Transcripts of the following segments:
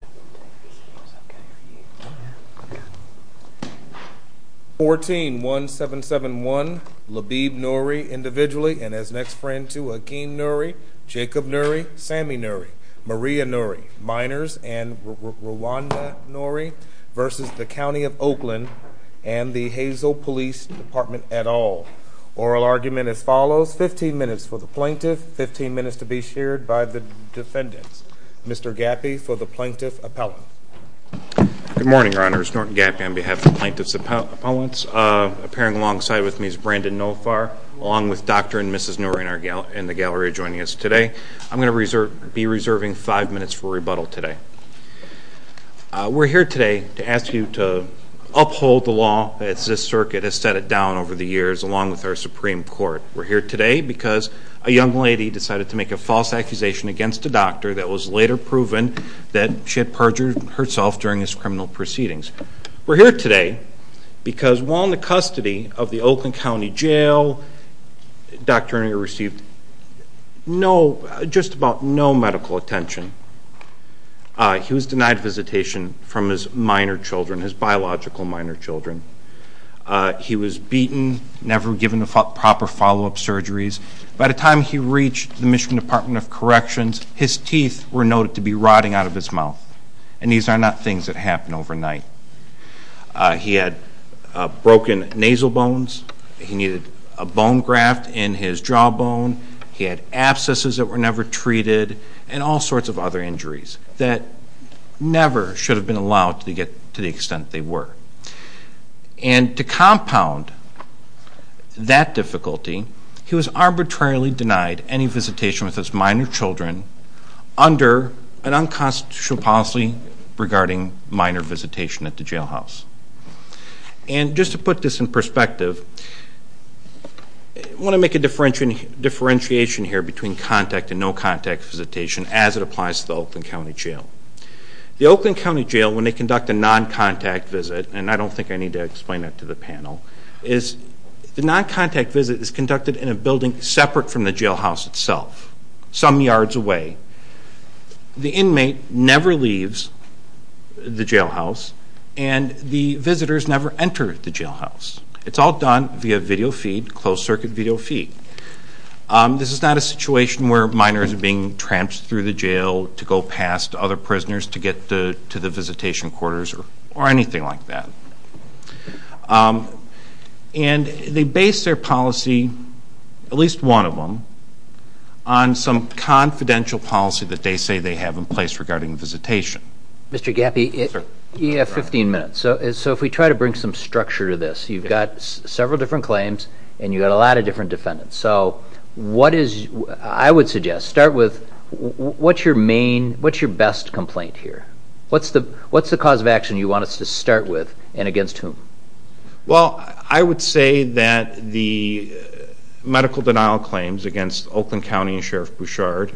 Thank Yeah. 14 1771 Labib Nouri individually and his next friend to a keen. Nouri Jacob Nouri Sammy Nouri Maria Nouri minors and were rwan nonary versus the County of Oakland and the Hazel police department at all oral argument as follows. 15 minutes for the plaintiff, 15 minutes to be shared by the defendants. Mr. Gappy for the plaintiff appellant. Good morning, your honors. Norton Gappy on behalf of plaintiff's appellants. Uh, appearing alongside with me is Brandon no far along with Dr and Mrs Nouri in our gal in the gallery joining us today. I'm going to reserve be reserving five minutes for rebuttal today. We're here today to ask you to uphold the law. It's this circuit has set it down over the years along with our Supreme Court. We're here today because a young lady decided to make a false accusation against the doctor that was later proven that she had perjured herself during his criminal proceedings. We're here today because while in the custody of the Oakland County Jail, Dr. Nouri received just about no medical attention. He was denied visitation from his minor children, his biological minor children. He was beaten, never given the proper follow up surgeries. By the time he reached the Michigan Department of Corrections, his teeth were noted to be rotting out of his mouth. And these are not things that happen overnight. He had broken nasal bones. He needed a bone graft in his jaw bone. He had abscesses that were never treated and all sorts of other injuries that never should have been allowed to get to the extent they were. And to compound that difficulty, he was arbitrarily denied any visitation with his minor children under an unconstitutional policy regarding minor visitation at the jail house. And just to put this in perspective, I wanna make a differentiation here between contact and no contact visitation as it applies to the Oakland County Jail. The Oakland County Jail, when they conduct a non contact visit, and I don't think I need to explain that to the panel, is the non contact visit is conducted in a building separate from the jail house itself, some yards away. The inmate never leaves the jail house and the visitors never enter the jail house. It's all done via video feed, closed circuit video feed. This is not a situation where minors are being tramped through the jail to go past other prisoners to get to the visitation quarters or anything like that. And they base their policy, at least one of them, on some confidential policy that they say they have in place regarding visitation. Mr. Gappy, you have 15 minutes. So if we try to bring some structure to this, you've got several different claims and you got a lot of different defendants. So what is... I would suggest, start with what's your main... What's your best complaint here? What's the cause of action you want us to start with and against whom? Well, I would say that the medical denial claims against Oakland County and Sheriff Bouchard,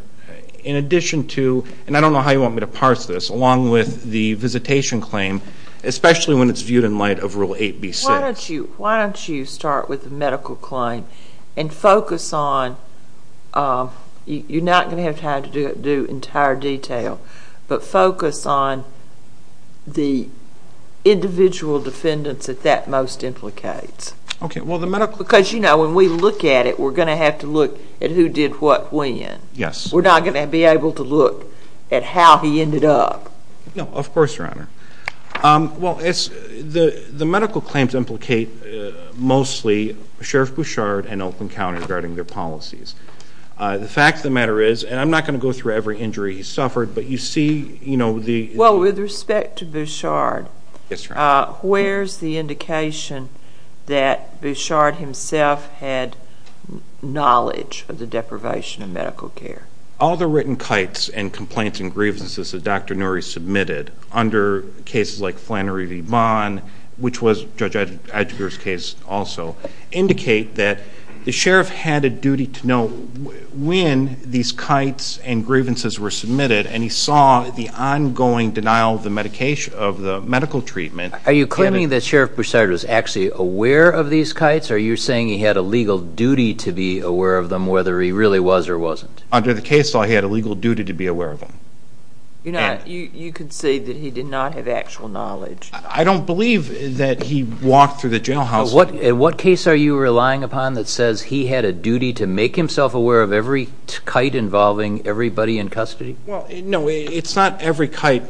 in addition to... And I don't know how you want me to parse this, along with the visitation claim, especially when it's viewed in light of Rule 8B6. Why don't you start with the medical claim and focus on... You're not gonna have time to do entire detail, but focus on the individual defendants that that most implicates. Okay. Well, the medical... Because when we look at it, we're gonna have to look at who did what when. Yes. We're not gonna be able to look at how he ended up. No, of course, Your Honor. Well, the medical claims implicate mostly Sheriff Bouchard and Oakland County regarding their policies. The fact of the matter is, and I'm not gonna go through every injury he suffered, but you see the... Well, with respect to Bouchard, where's the indication that Bouchard himself had knowledge of the deprivation of medical care? All the written cites and complaints and grievances that Dr. Nouri submitted under cases like Flannery V. Vaughn, which was Judge Adger's case also, indicate that the Sheriff had a duty to know when these cites and grievances were submitted, and he saw the ongoing denial of the medical treatment. Are you claiming that Sheriff Bouchard was actually aware of these cites, or are you saying he had a legal duty to be aware of them, whether he really was or wasn't? Under the case law, he had a legal duty to be aware of them. You concede that he did not have actual knowledge. I don't believe that he walked through the jailhouse. In what case are you relying upon that says he had a duty to make himself aware of every cite involving everybody in custody? Well, no, it's not every cite,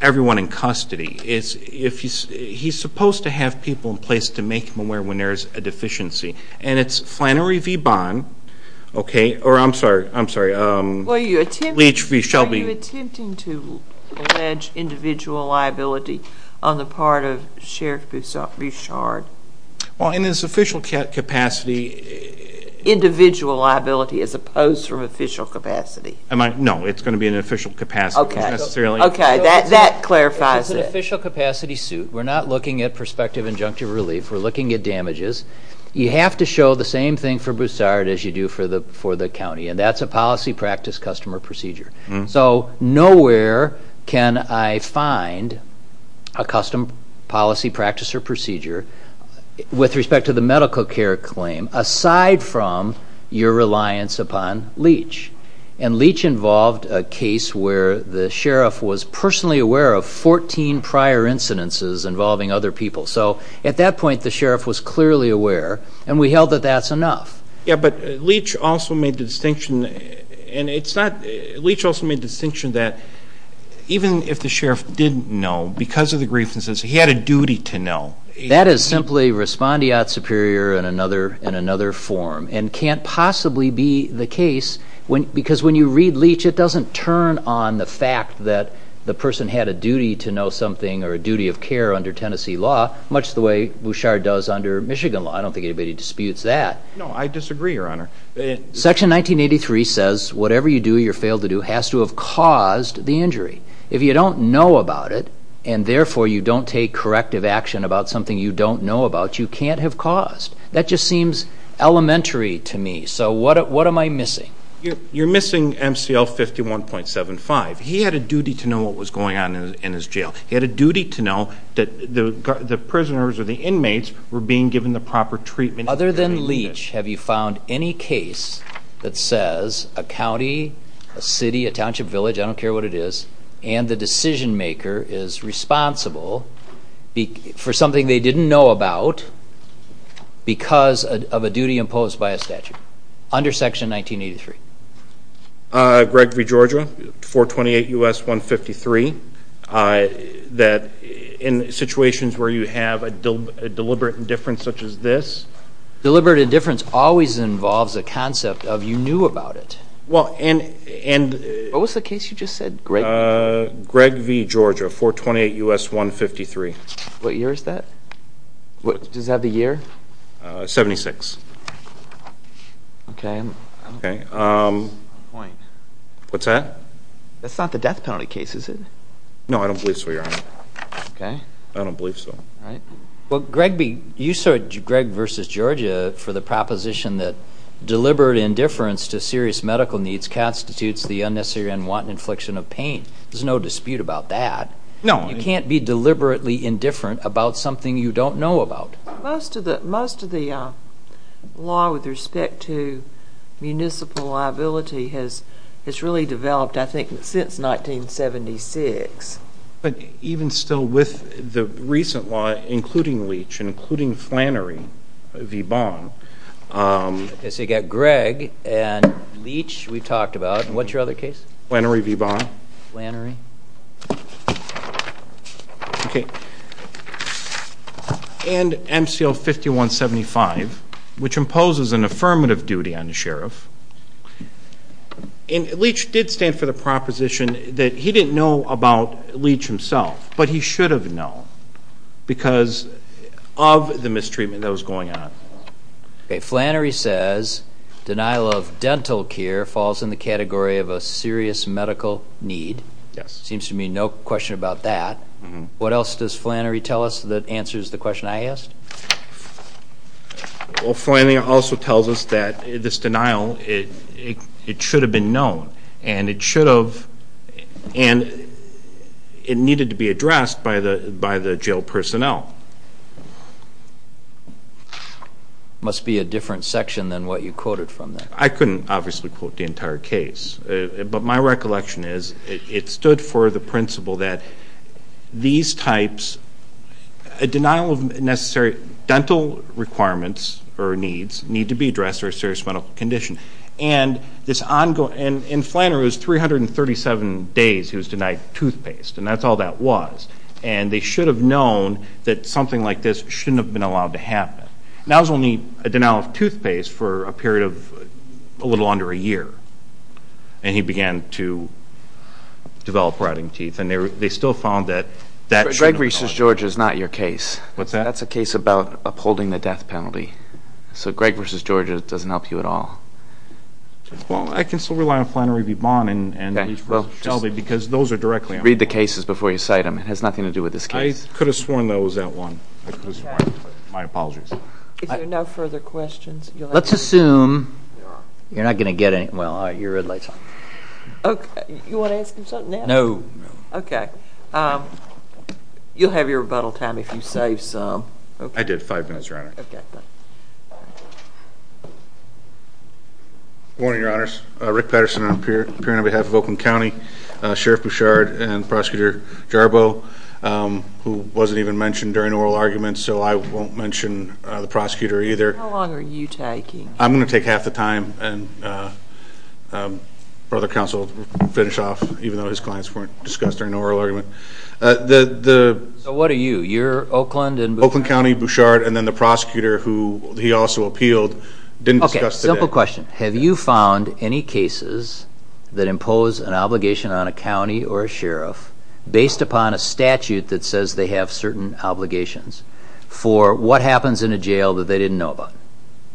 everyone in custody. He's supposed to have people in place to make him aware when there's a deficiency, and it's Flannery V. Vaughn, okay, or I'm sorry, Leach V. Shelby. Are you attempting to allege individual liability on the part of Sheriff Bouchard? Well, in his official capacity... Individual liability as opposed to official capacity? No, it's gonna be an official capacity. Okay, that clarifies it. It's an official capacity suit. We're not looking at prospective injunctive relief, we're looking at damages. You have to show the same thing for Bouchard as you do for the county, and that's a policy practice customer procedure. With respect to the medical care claim, aside from your reliance upon Leach, and Leach involved a case where the sheriff was personally aware of 14 prior incidences involving other people. So at that point, the sheriff was clearly aware, and we held that that's enough. Yeah, but Leach also made the distinction, and it's not... Leach also made the distinction that even if the sheriff didn't know, because of the grievances, he had a simply respondeat superior in another form, and can't possibly be the case, because when you read Leach, it doesn't turn on the fact that the person had a duty to know something or a duty of care under Tennessee law, much the way Bouchard does under Michigan law. I don't think anybody disputes that. No, I disagree, Your Honor. Section 1983 says, whatever you do or you fail to do has to have caused the injury. If you don't know about it, and therefore you don't take corrective action about something you don't know about, you can't have caused. That just seems elementary to me. So what am I missing? You're missing MCL 51.75. He had a duty to know what was going on in his jail. He had a duty to know that the prisoners or the inmates were being given the proper treatment. Other than Leach, have you found any case that says a county, a city, a township, village, I don't care what it is, and the decision maker is responsible for something they didn't know about because of a duty imposed by a statute under Section 1983? Gregory, Georgia, 428 U.S. 153, that in situations where you have a deliberate indifference such as this... Deliberate indifference always involves a concept of you knew about it. Well, and... What was the case you just said, Greg? Greg v. Georgia, 428 U.S. 153. What year is that? Does that have the year? 76. Okay. What's that? That's not the death penalty case, is it? No, I don't believe so, Your Honor. Okay. I don't believe so. All right. Well, Greg v... You said Greg versus Georgia for the proposition that deliberate indifference to serious medical needs constitutes the unnecessary and unwanted infliction of pain. There's no dispute about that. No. You can't be deliberately indifferent about something you don't know about. Most of the law with respect to municipal liability has really developed, I think, since 1976. But even still with the recent law, including Leach, including Flannery v. Bond... Okay, so you got Greg and Leach we've talked about. And what's your other case? Flannery v. Bond. Flannery. Okay. And MCL 5175, which imposes an affirmative duty on the sheriff. And Leach did stand for the proposition that he didn't know about Leach himself, but he should have known because of the mistreatment that was going on. Okay, Flannery says denial of dental care falls in the category of a serious medical need. Yes. Seems to me no question about that. What else does Flannery tell us that answers the question I asked? Well, Flannery also tells us that this denial, it should have been known, and it should have... By the jail personnel. Must be a different section than what you quoted from there. I couldn't obviously quote the entire case, but my recollection is it stood for the principle that these types... A denial of necessary dental requirements or needs need to be addressed for a serious medical condition. And this ongoing... And in Flannery, it was 337 days he was denied toothpaste, and that's all that was. And they should have known that something like this shouldn't have been allowed to happen. And that was only a denial of toothpaste for a period of a little under a year. And he began to develop rotting teeth, and they still found that that... Greg versus George is not your case. What's that? That's a case about upholding the death penalty. So Greg versus George doesn't help you at all. Well, I can still rely on Flannery V. Bond and Leach versus Shelby because those are directly... Read the cases before you cite them. It has nothing to do with this case. I could have sworn that was that one. My apologies. If there are no further questions... Let's assume you're not gonna get any... Well, your red light's on. You wanna ask him something now? No. Okay. You'll have your rebuttal time if you save some. Okay. I did, five minutes, Your Honor. Okay, fine. Good morning, Your Honors. Rick Patterson and I'm appearing on behalf of Oakland County, Sheriff Bouchard and Prosecutor Jarboe, who wasn't even mentioned during oral arguments, so I won't mention the prosecutor either. How long are you taking? I'm gonna take half the time and Brother Counsel will finish off, even though his clients weren't discussed during the oral argument. What are you? You're Oakland and... Oakland County, Bouchard, and then the prosecutor who he also appealed, didn't discuss today. Okay, simple question. Have you found any cases that impose an obligation on a county or a sheriff, based upon a statute that says they have certain obligations, for what happens in a jail that they didn't know about?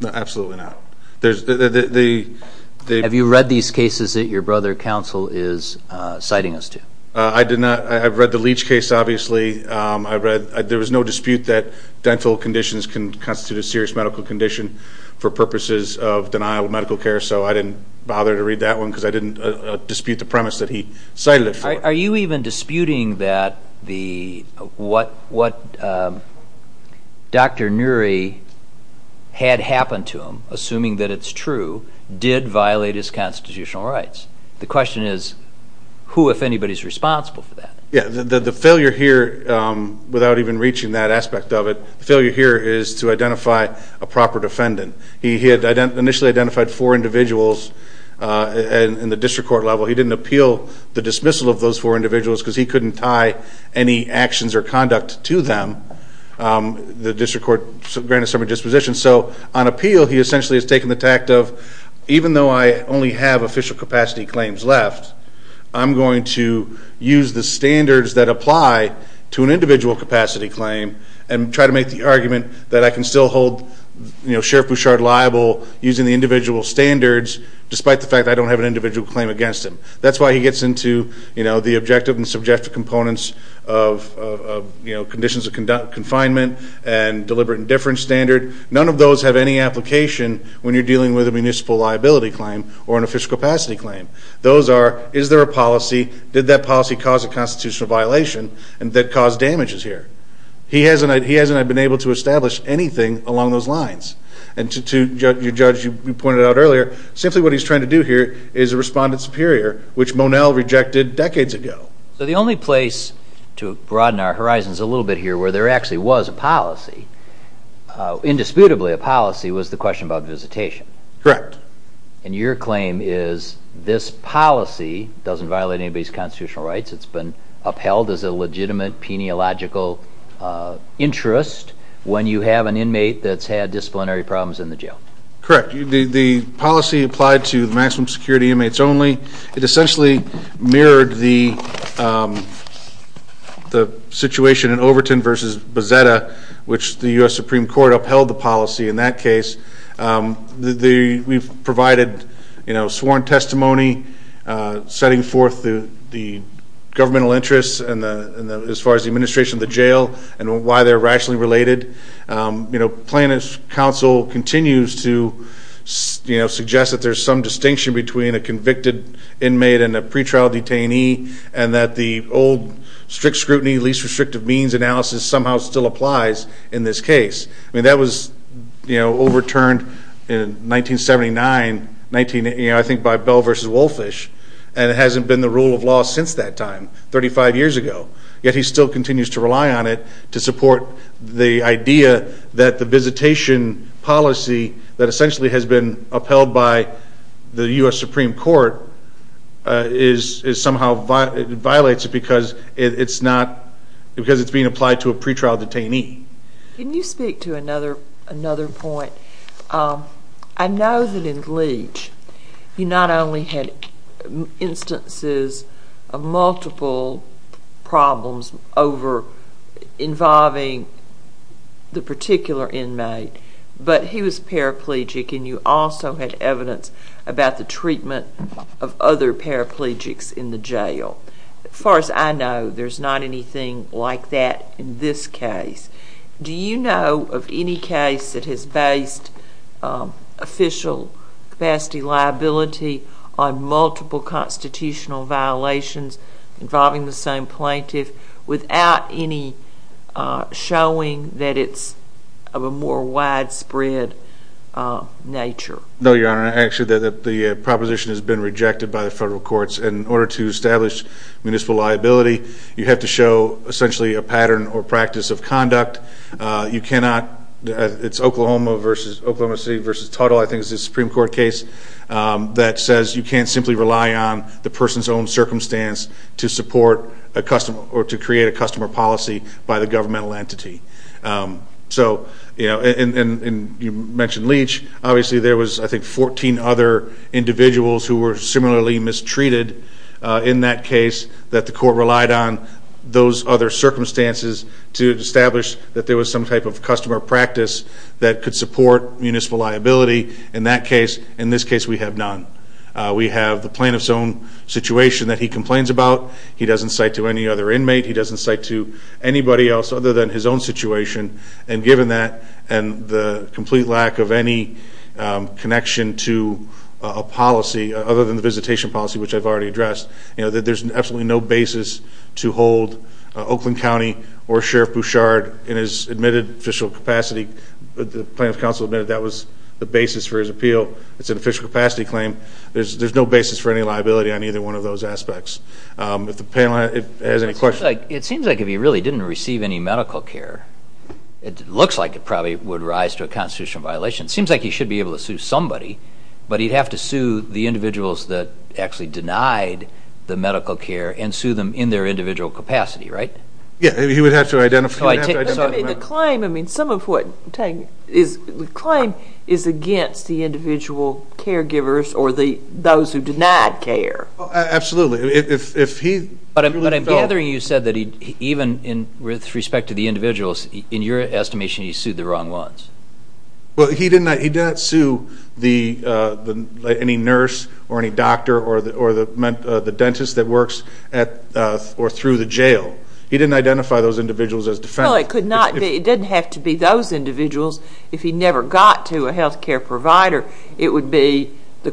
Absolutely not. Have you read these cases that your brother counsel is citing us to? I did not. I've read the Leach case, obviously. There was no dispute that dental conditions can constitute a serious medical condition for purposes of denial of medical care, so I didn't bother to read that one, because I didn't dispute the premise that he cited it for. Are you even disputing that the... What Dr. Neary had happen to him, assuming that it's true, did violate his constitutional rights? The question is, who, if anybody, is responsible for that? Yeah, the failure here, without even reaching that aspect of it, the failure here is to identify a proper defendant. He had initially identified four individuals in the district court level. He didn't appeal the dismissal of those four individuals, because he couldn't tie any actions or conduct to them. The district court granted some of the dispositions, so on appeal, he essentially has taken the tact of, even though I only have official capacity claims left, I'm going to use the standards that apply to an individual capacity claim, and try to make the argument that I can still hold Sheriff Bouchard liable using the individual standards, despite the fact I don't have an individual claim against him. That's why he gets into the objective and subjective components of conditions of confinement and deliberate indifference standard. None of those have any application when you're dealing with a municipal liability claim or an official capacity claim. Those are, is there a policy, did that policy cause a constitutional violation, and did it cause damages here? He hasn't, he hasn't been able to establish anything along those lines. And to your judge, you pointed out earlier, simply what he's trying to do here is a respondent superior, which Monell rejected decades ago. So the only place to broaden our horizons a little bit here, where there actually was a policy, indisputably a policy, was the question about visitation. Correct. And your claim is this policy doesn't violate anybody's constitutional rights, it's been upheld as a legitimate, peniological interest when you have an inmate that's had disciplinary problems in the jail. Correct. The policy applied to maximum security inmates only. It essentially mirrored the situation in Overton versus Bezzetta, which the U.S. Supreme Court upheld the policy in that case. We've provided, you know, sworn testimony, setting forth the governmental interests as far as the administration of the jail, and why they're rationally related. You know, plaintiff's counsel continues to, you know, suggest that there's some distinction between a convicted inmate and a pretrial detainee, and that the old strict scrutiny, least restrictive means analysis somehow still applies in this case. I mean, that was, you know, overturned in 1979, you know, I think by Bell versus Wolfish, and it hasn't been the rule of law since that time, 35 years ago. Yet he still continues to rely on it to support the idea that the visitation policy that essentially has been upheld by the U.S. Supreme Court is somehow, it violates it because it's not, because it's being applied to a pretrial detainee. Can you speak to another point? I know that in Leach, you not only had instances of multiple problems over involving the particular inmate, but he was paraplegic, and you also had evidence about the treatment of other paraplegics in the jail. As far as I know, there's not anything like that in this case. Do you know of any case that has based official capacity liability on multiple constitutional violations involving the same plaintiff without any showing that it's of a more widespread nature? No, Your Honor. Actually, the proposition has been rejected by the federal courts. In order to establish municipal liability, you have to show essentially a pattern or practice of conduct. You cannot, it's Oklahoma versus, Oklahoma City versus Tuttle, I think is the Supreme Court case, that says you can't simply rely on the person's own circumstance to support a customer or to create a customer policy by the governmental entity. So, you know, and you mentioned Leach, obviously there was I think 14 other individuals who were similarly mistreated in that case that the court relied on those other circumstances to establish that there was some type of customer practice that could support municipal liability. In that case, in this case, we have none. We have the plaintiff's own situation that he complains about. He doesn't cite to any other inmate. He doesn't cite to anybody else other than his own situation, and given that and the complete lack of any connection to a policy other than the visitation policy, which I've already addressed, you know, that there's absolutely no basis to hold Oakland County or Sheriff Bouchard in his admitted official capacity. The plaintiff's counsel admitted that was the basis for his appeal. It's an official capacity claim. There's no basis for any liability on either one of those aspects. If the panel has any questions. It seems like if he really didn't receive any medical care, it looks like it probably would rise to a constitutional violation. Seems like he should be able to sue somebody, but he'd have to sue the individuals that actually denied the medical care and sue them in their individual capacity, right? Yeah, he would have to identify. The claim, I mean, some of what is the claim is against the individual caregivers or those who denied care. Absolutely. But I'm gathering you said that even with respect to the individuals, in your estimation, he sued the wrong ones. Well, he did not sue any nurse or any doctor or the dentist that works at or through the jail. He didn't identify those individuals as defendants. Well, it didn't have to be those individuals. If he never got to a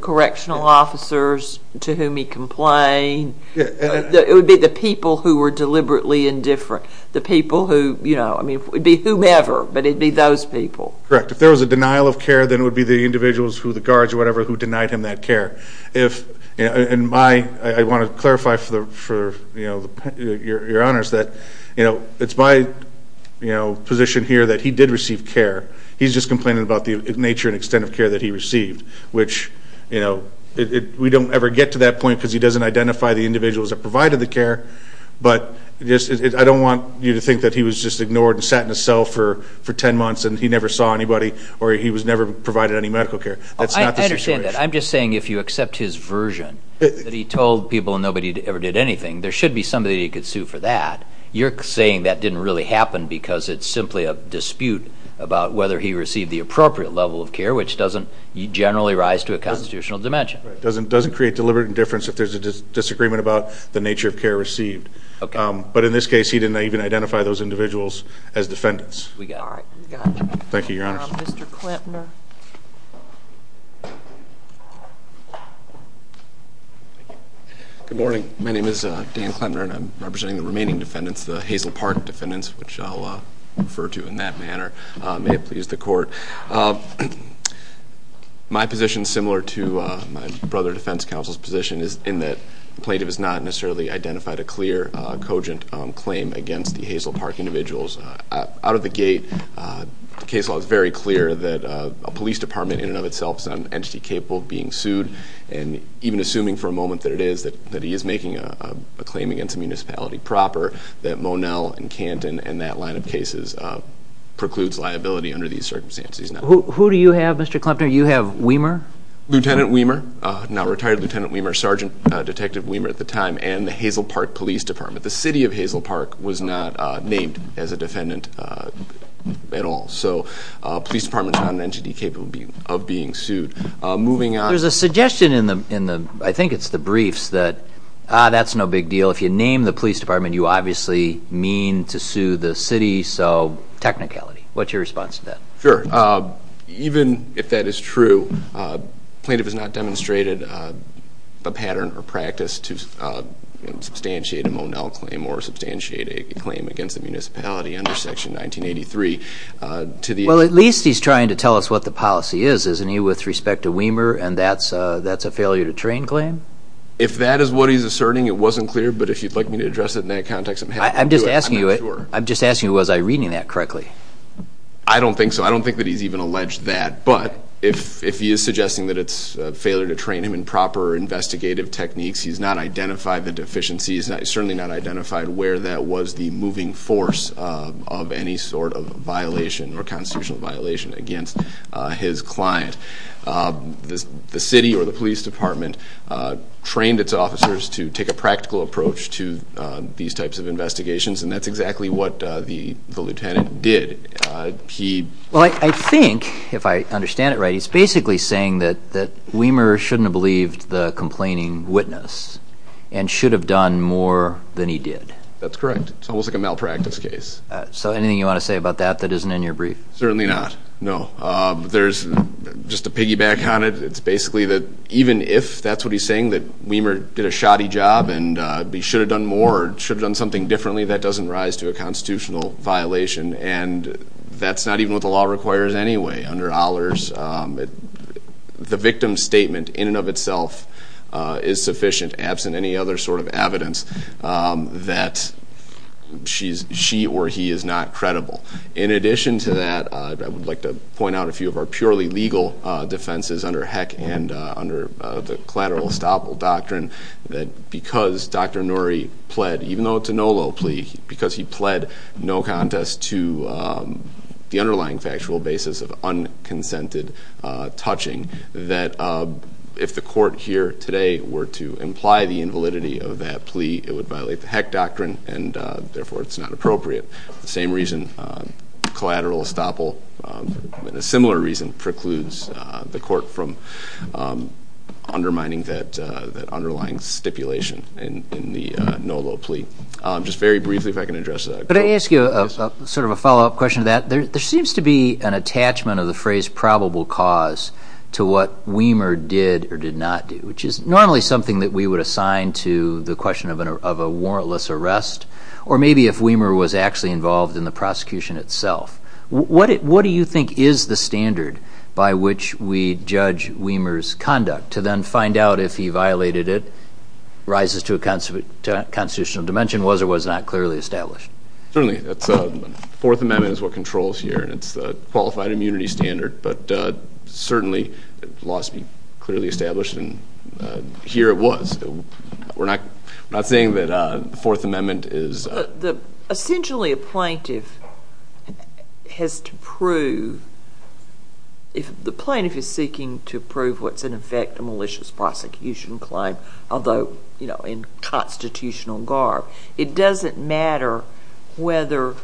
correctional officers to whom he complained, it would be the people who were deliberately indifferent. The people who, you know, I mean, it would be whomever, but it'd be those people. Correct. If there was a denial of care, then it would be the individuals who the guards or whatever who denied him that care. If, and my, I want to clarify for the, for, you know, your honors that, you know, it's my, you know, position here that he did receive care. He's just complaining about the nature and extent of care that he received, which, you know, it, we don't ever get to that point because he doesn't identify the individuals that provided the care. But just, I don't want you to think that he was just ignored and sat in a cell for, for 10 months and he never saw anybody or he was never provided any medical care. That's not the situation. I understand that. I'm just saying if you accept his version that he told people and nobody ever did anything, there should be somebody he could sue for that. You're saying that didn't really happen because it's simply a level of care which doesn't generally rise to a constitutional dimension. Right. Doesn't, doesn't create deliberate indifference if there's a disagreement about the nature of care received. Okay. But in this case, he didn't even identify those individuals as defendants. We got it. Thank you, your honors. Mr. Klempner. Good morning. My name is Dan Klempner and I'm representing the remaining defendants, the Hazel Park defendants, which I'll refer to in that manner. May it please the court. My position, similar to my brother defense counsel's position, is in that the plaintiff has not necessarily identified a clear cogent claim against the Hazel Park individuals. Out of the gate, the case law is very clear that a police department in and of itself is not an entity capable of being sued. And even assuming for a moment that it is, that he is making a claim against the municipality proper, that Monell and Canton and that line of cases precludes liability under these circumstances. Who do you have, Mr. Klempner? You have Weimer? Lieutenant Weimer, now retired Lieutenant Weimer, Sergeant Detective Weimer at the time, and the Hazel Park Police Department. The city of Hazel Park was not named as a defendant at all. So a police department is not an entity capable of being sued. Moving on. There's a suggestion in the, in the, I think it's the briefs that, ah, that's no big deal. If you name the police department, you obviously mean to sue the city, so technicality. What's your response to that? Sure. Even if that is true, plaintiff has not demonstrated the pattern or practice to substantiate a Monell claim or substantiate a claim against the municipality under Section 1983. Well, at least he's trying to tell us what the policy is, isn't he, with respect to Weimer, and that's a failure to train claim? If that is what he's asserting, it wasn't clear, but if you'd like me to address it in that context, I'm just asking you, I'm just asking, was I reading that correctly? I don't think so. I don't think that he's even alleged that, but if he is suggesting that it's a failure to train him in proper investigative techniques, he's not identified the deficiencies, certainly not identified where that was the moving force of any sort of violation or constitutional violation against his client. The city or the police department trained its officers to take a and that's exactly what the lieutenant did. Well, I think, if I understand it right, he's basically saying that Weimer shouldn't have believed the complaining witness and should have done more than he did. That's correct. It's almost like a malpractice case. So anything you want to say about that that isn't in your brief? Certainly not, no. There's just a piggyback on it. It's basically that even if that's what he's saying, that Weimer did a shoddy job and he should have done something differently. That doesn't rise to a constitutional violation and that's not even what the law requires anyway. Under Ollers, the victim's statement in and of itself is sufficient absent any other sort of evidence that she or he is not credible. In addition to that, I would like to point out a few of our purely legal defenses under Heck and under the collateral estoppel that because Dr. Norrie pled, even though it's a NOLO plea, because he pled no contest to the underlying factual basis of unconsented touching, that if the court here today were to imply the invalidity of that plea, it would violate the Heck doctrine and therefore it's not appropriate. The same reason collateral estoppel and a similar reason precludes the court from undermining that underlying stipulation in the NOLO plea. Just very briefly if I can address that. Could I ask you a sort of a follow-up question to that? There seems to be an attachment of the phrase probable cause to what Weimer did or did not do, which is normally something that we would assign to the question of a warrantless arrest or maybe if Weimer was actually involved in the to then find out if he violated it, rises to a constitutional dimension, was or was not clearly established. Certainly. The Fourth Amendment is what controls here and it's the qualified immunity standard, but certainly laws be clearly established and here it was. We're not saying that the Fourth Amendment is... Essentially a plaintiff has to prove, if the plaintiff is seeking to infect a malicious prosecution claim, although you know in constitutional garb, it doesn't matter whether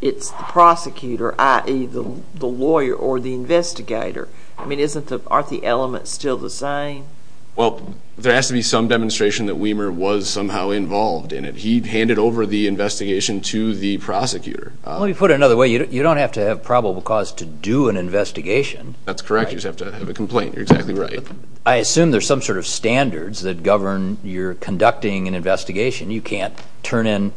it's the prosecutor, i.e. the lawyer or the investigator. I mean, aren't the elements still the same? Well, there has to be some demonstration that Weimer was somehow involved in it. He'd handed over the investigation to the prosecutor. Let me put it another way. You don't have to have probable cause to do an investigation. That's correct. You just have to have a complaint. You're exactly right. I assume there's some sort of standards that govern your conducting an investigation. You can't turn in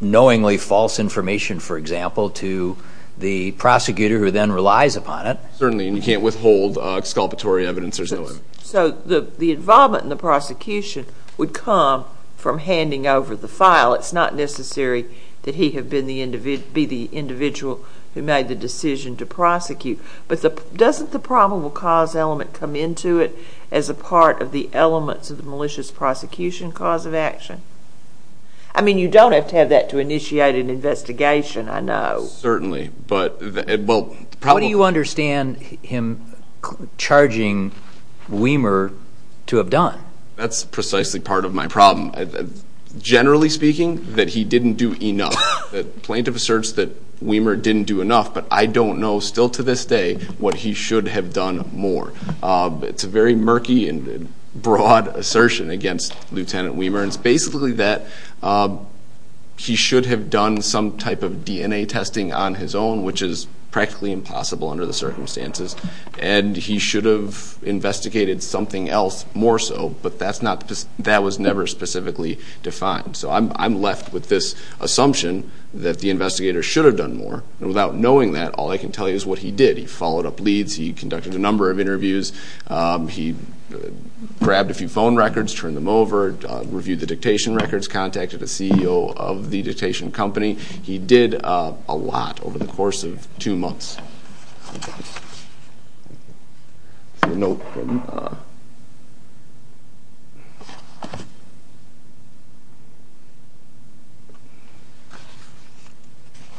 knowingly false information, for example, to the prosecutor who then relies upon it. Certainly. You can't withhold exculpatory evidence. There's no limit. So the involvement in the prosecution would come from handing over the file. It's not necessary that he have been the individual who made the decision to prosecute, but doesn't the probable cause element come into it as a part of the elements of the malicious prosecution cause of action? I mean, you don't have to have that to initiate an investigation, I know. Certainly, but well... How do you understand him charging Weimer to have done? That's precisely part of my problem. Generally speaking, that he didn't do enough. The plaintiff asserts that Weimer didn't do enough, but I don't know still to this day what he should have done more. It's a very murky and broad assertion against Lieutenant Weimer. It's basically that he should have done some type of DNA testing on his own, which is practically impossible under the circumstances, and he should have investigated something else more so, but that was never specifically defined. So I'm left with this assumption that the investigator should have done more, and without knowing that, all I can tell you is what he did. He followed up leads, he conducted a number of interviews, he grabbed a few phone records, turned them over, reviewed the dictation records, contacted the CEO of the company,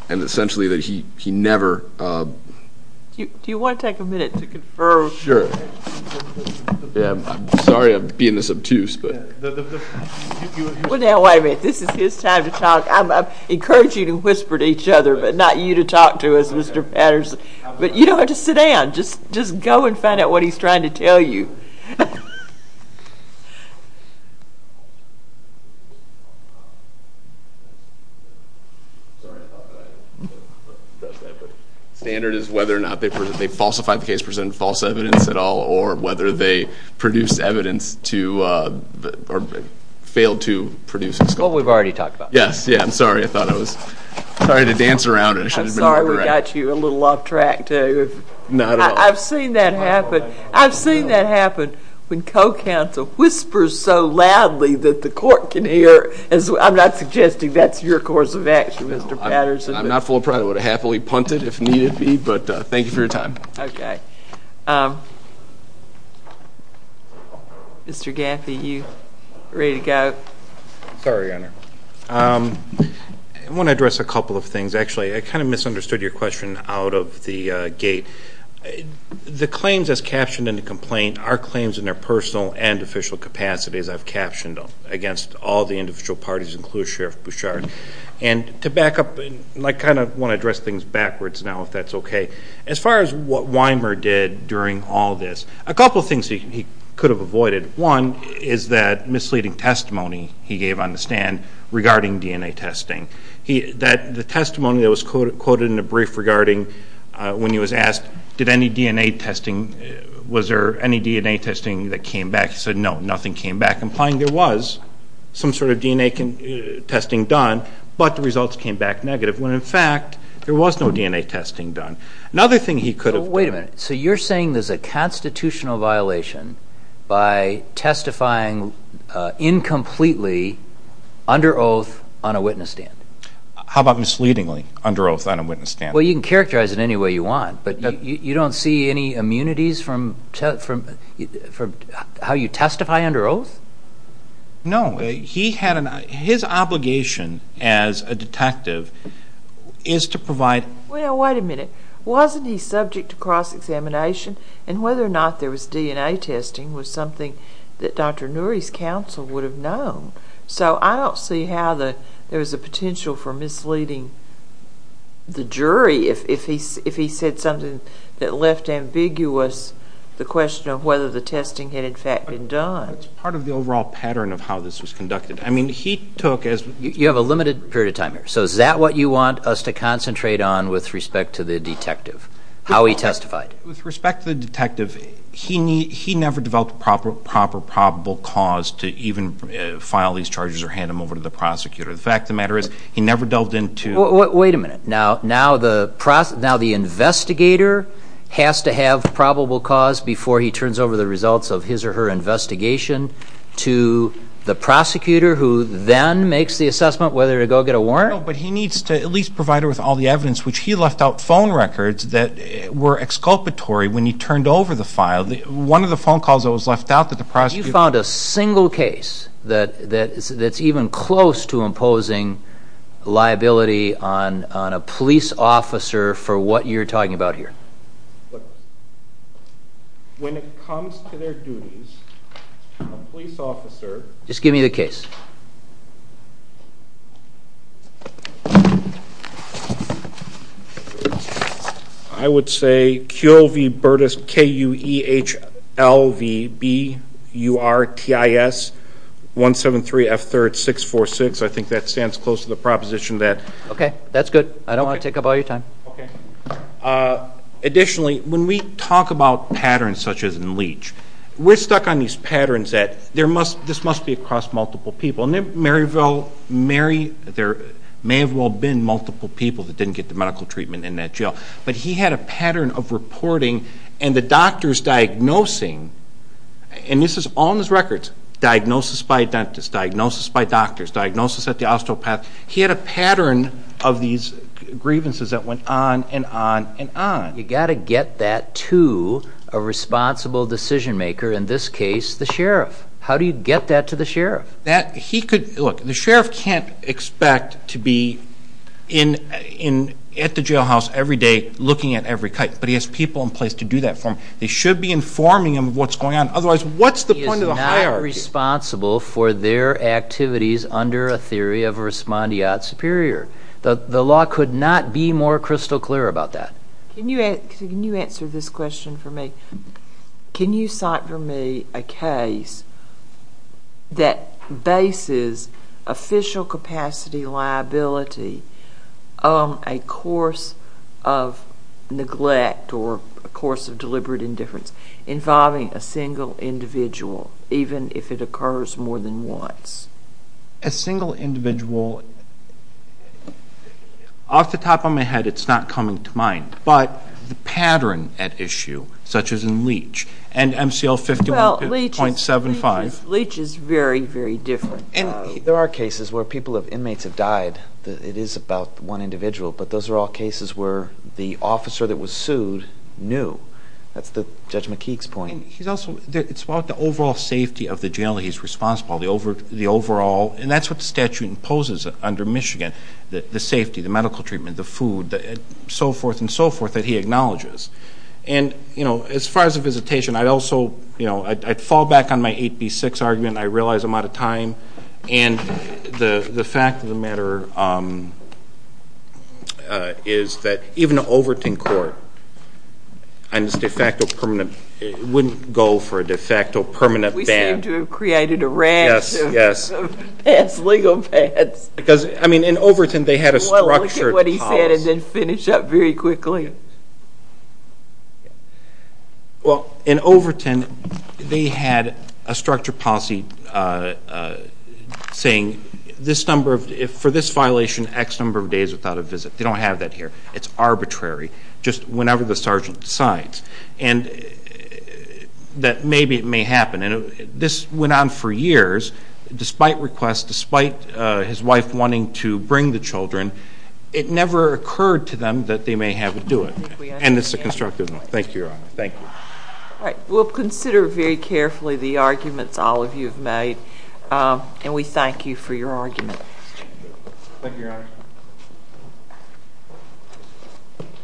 and essentially that he never... Do you want to take a minute to confirm? Sure. Yeah, I'm sorry I'm being this obtuse, but... Well, now, wait a minute. This is his time to talk. I'm encouraging you to whisper to each other, but not you to talk to us, Mr. Patterson, but you don't have to sit down. Just go and find out what he's trying to tell you. Sorry, I thought that I addressed that, but the standard is whether or not they falsified the case, presented false evidence at all, or whether they produced evidence to... Or failed to produce... Well, we've already talked about that. Yes, yeah, I'm sorry. I thought I was... Sorry to dance around it. I should have been more direct. I'm sorry we got you a little off track, too. Not at all. I've seen that happen. I've seen that happen when co-counsel whispers so loudly that the court can hear. I'm not suggesting that's your course of action, Mr. Patterson. I'm not full of pride. I would have happily punted if needed be, but thank you for your time. Okay. Mr. Gaffney, you ready to go? Sorry, Honor. I want to address a couple of things. Actually, I kind of misunderstood your question out of the gate. The claims as captioned in the complaint are claims in their personal and official capacities. I've captioned them against all the individual parties, including Sheriff Bouchard. And to back up, I kind of want to address things backwards now, if that's okay. As far as what Weimer did during all this, a couple of things he could have avoided. One is that misleading testimony he gave on the stand regarding DNA testing. The testimony that was quoted in the brief regarding when he was asked, did any DNA testing, was there any DNA testing that came back? He said, no, nothing came back, implying there was some sort of DNA testing done, but the results came back negative, when in fact, there was no DNA testing done. Another thing he could have... Wait a minute. So you're saying there's a constitutional violation by testifying incompletely under oath on a witness stand? How about misleadingly under oath on a witness stand? Well, you can characterize it any way you don't see any immunities from how you testify under oath? No. His obligation as a detective is to provide... Well, wait a minute. Wasn't he subject to cross-examination? And whether or not there was DNA testing was something that Dr. Nouri's counsel would have known. So I don't see how there was a potential for misleading the jury if he said something that left ambiguous the question of whether the testing had, in fact, been done. It's part of the overall pattern of how this was conducted. I mean, he took as... You have a limited period of time here. So is that what you want us to concentrate on with respect to the detective, how he testified? With respect to the detective, he never developed a proper probable cause to even file these charges against the prosecutor. The fact of the matter is, he never delved into... Wait a minute. Now the investigator has to have probable cause before he turns over the results of his or her investigation to the prosecutor who then makes the assessment whether to go get a warrant? No, but he needs to at least provide her with all the evidence, which he left out phone records that were exculpatory when he turned over the file. One of the phone calls that was left out that you found a single case that's even close to imposing liability on a police officer for what you're talking about here? When it comes to their duties, a police officer... Just give me the case. I would say Q-O-V Burtis, K-U-E-H-L-V-B-U-R-T-I-S-1-7-3-F-3-6-4-6. I think that stands close to the proposition that... Okay, that's good. I don't want to take up all your time. Okay. Additionally, when we talk about patterns such as in Leach, we're stuck on these patterns that this must be across multiple people. In Maryville, there may have well been multiple people that didn't get the medical treatment in that jail, but he had a pattern of reporting and the doctors diagnosing, and this is all in his records, diagnosis by a dentist, diagnosis by doctors, diagnosis at the osteopath. He had a pattern of these grievances that went on and on and on. You got to get that to a responsible decision maker, in this case, the sheriff. How do you get that to the sheriff? That he could... Look, the sheriff can't expect to be at the jailhouse every day looking at every cut, but he has people in place to do that for him. They should be informing him of what's going on. Otherwise, what's the point of the hierarchy? He is not responsible for their activities under a theory of respondeat superior. The law could not be more crystal clear about that. Can you answer this question for me? Can you cite for me a case that bases official capacity liability on a course of neglect or a course of deliberate indifference involving a single individual, even if it occurs more than once? A single individual... But the pattern at issue, such as in Leach and MCL 51.75... Leach is very, very different. There are cases where people have... Inmates have died. It is about one individual, but those are all cases where the officer that was sued knew. That's Judge McKeague's point. He's also... It's about the overall safety of the jail that he's responsible, the overall... And that's what the statute imposes under Michigan, the safety, the medical treatment, the food, so forth and so forth that he acknowledges. And as far as the visitation, I'd also... I'd fall back on my 8B6 argument. I realize I'm out of time. And the fact of the matter is that even an Overton court and its de facto permanent... It wouldn't go for a de facto permanent ban. We seem to have created a rash of past legal bans. Because, I mean, in Overton, they had a structured policy... Well, look at what he said and then finish up very quickly. Well, in Overton, they had a structured policy saying this number of... For this violation, X number of days without a visit. They don't have that here. It's arbitrary, just whenever the sergeant decides. And that maybe it may happen. And this went on for years, despite requests, despite his wife wanting to bring the children, it never occurred to them that they may have to do it. And it's a constructive one. Thank you, Your Honor. Thank you. All right. We'll consider very carefully the arguments all of you have made. And we thank you for your argument. Thank you, Your Honor.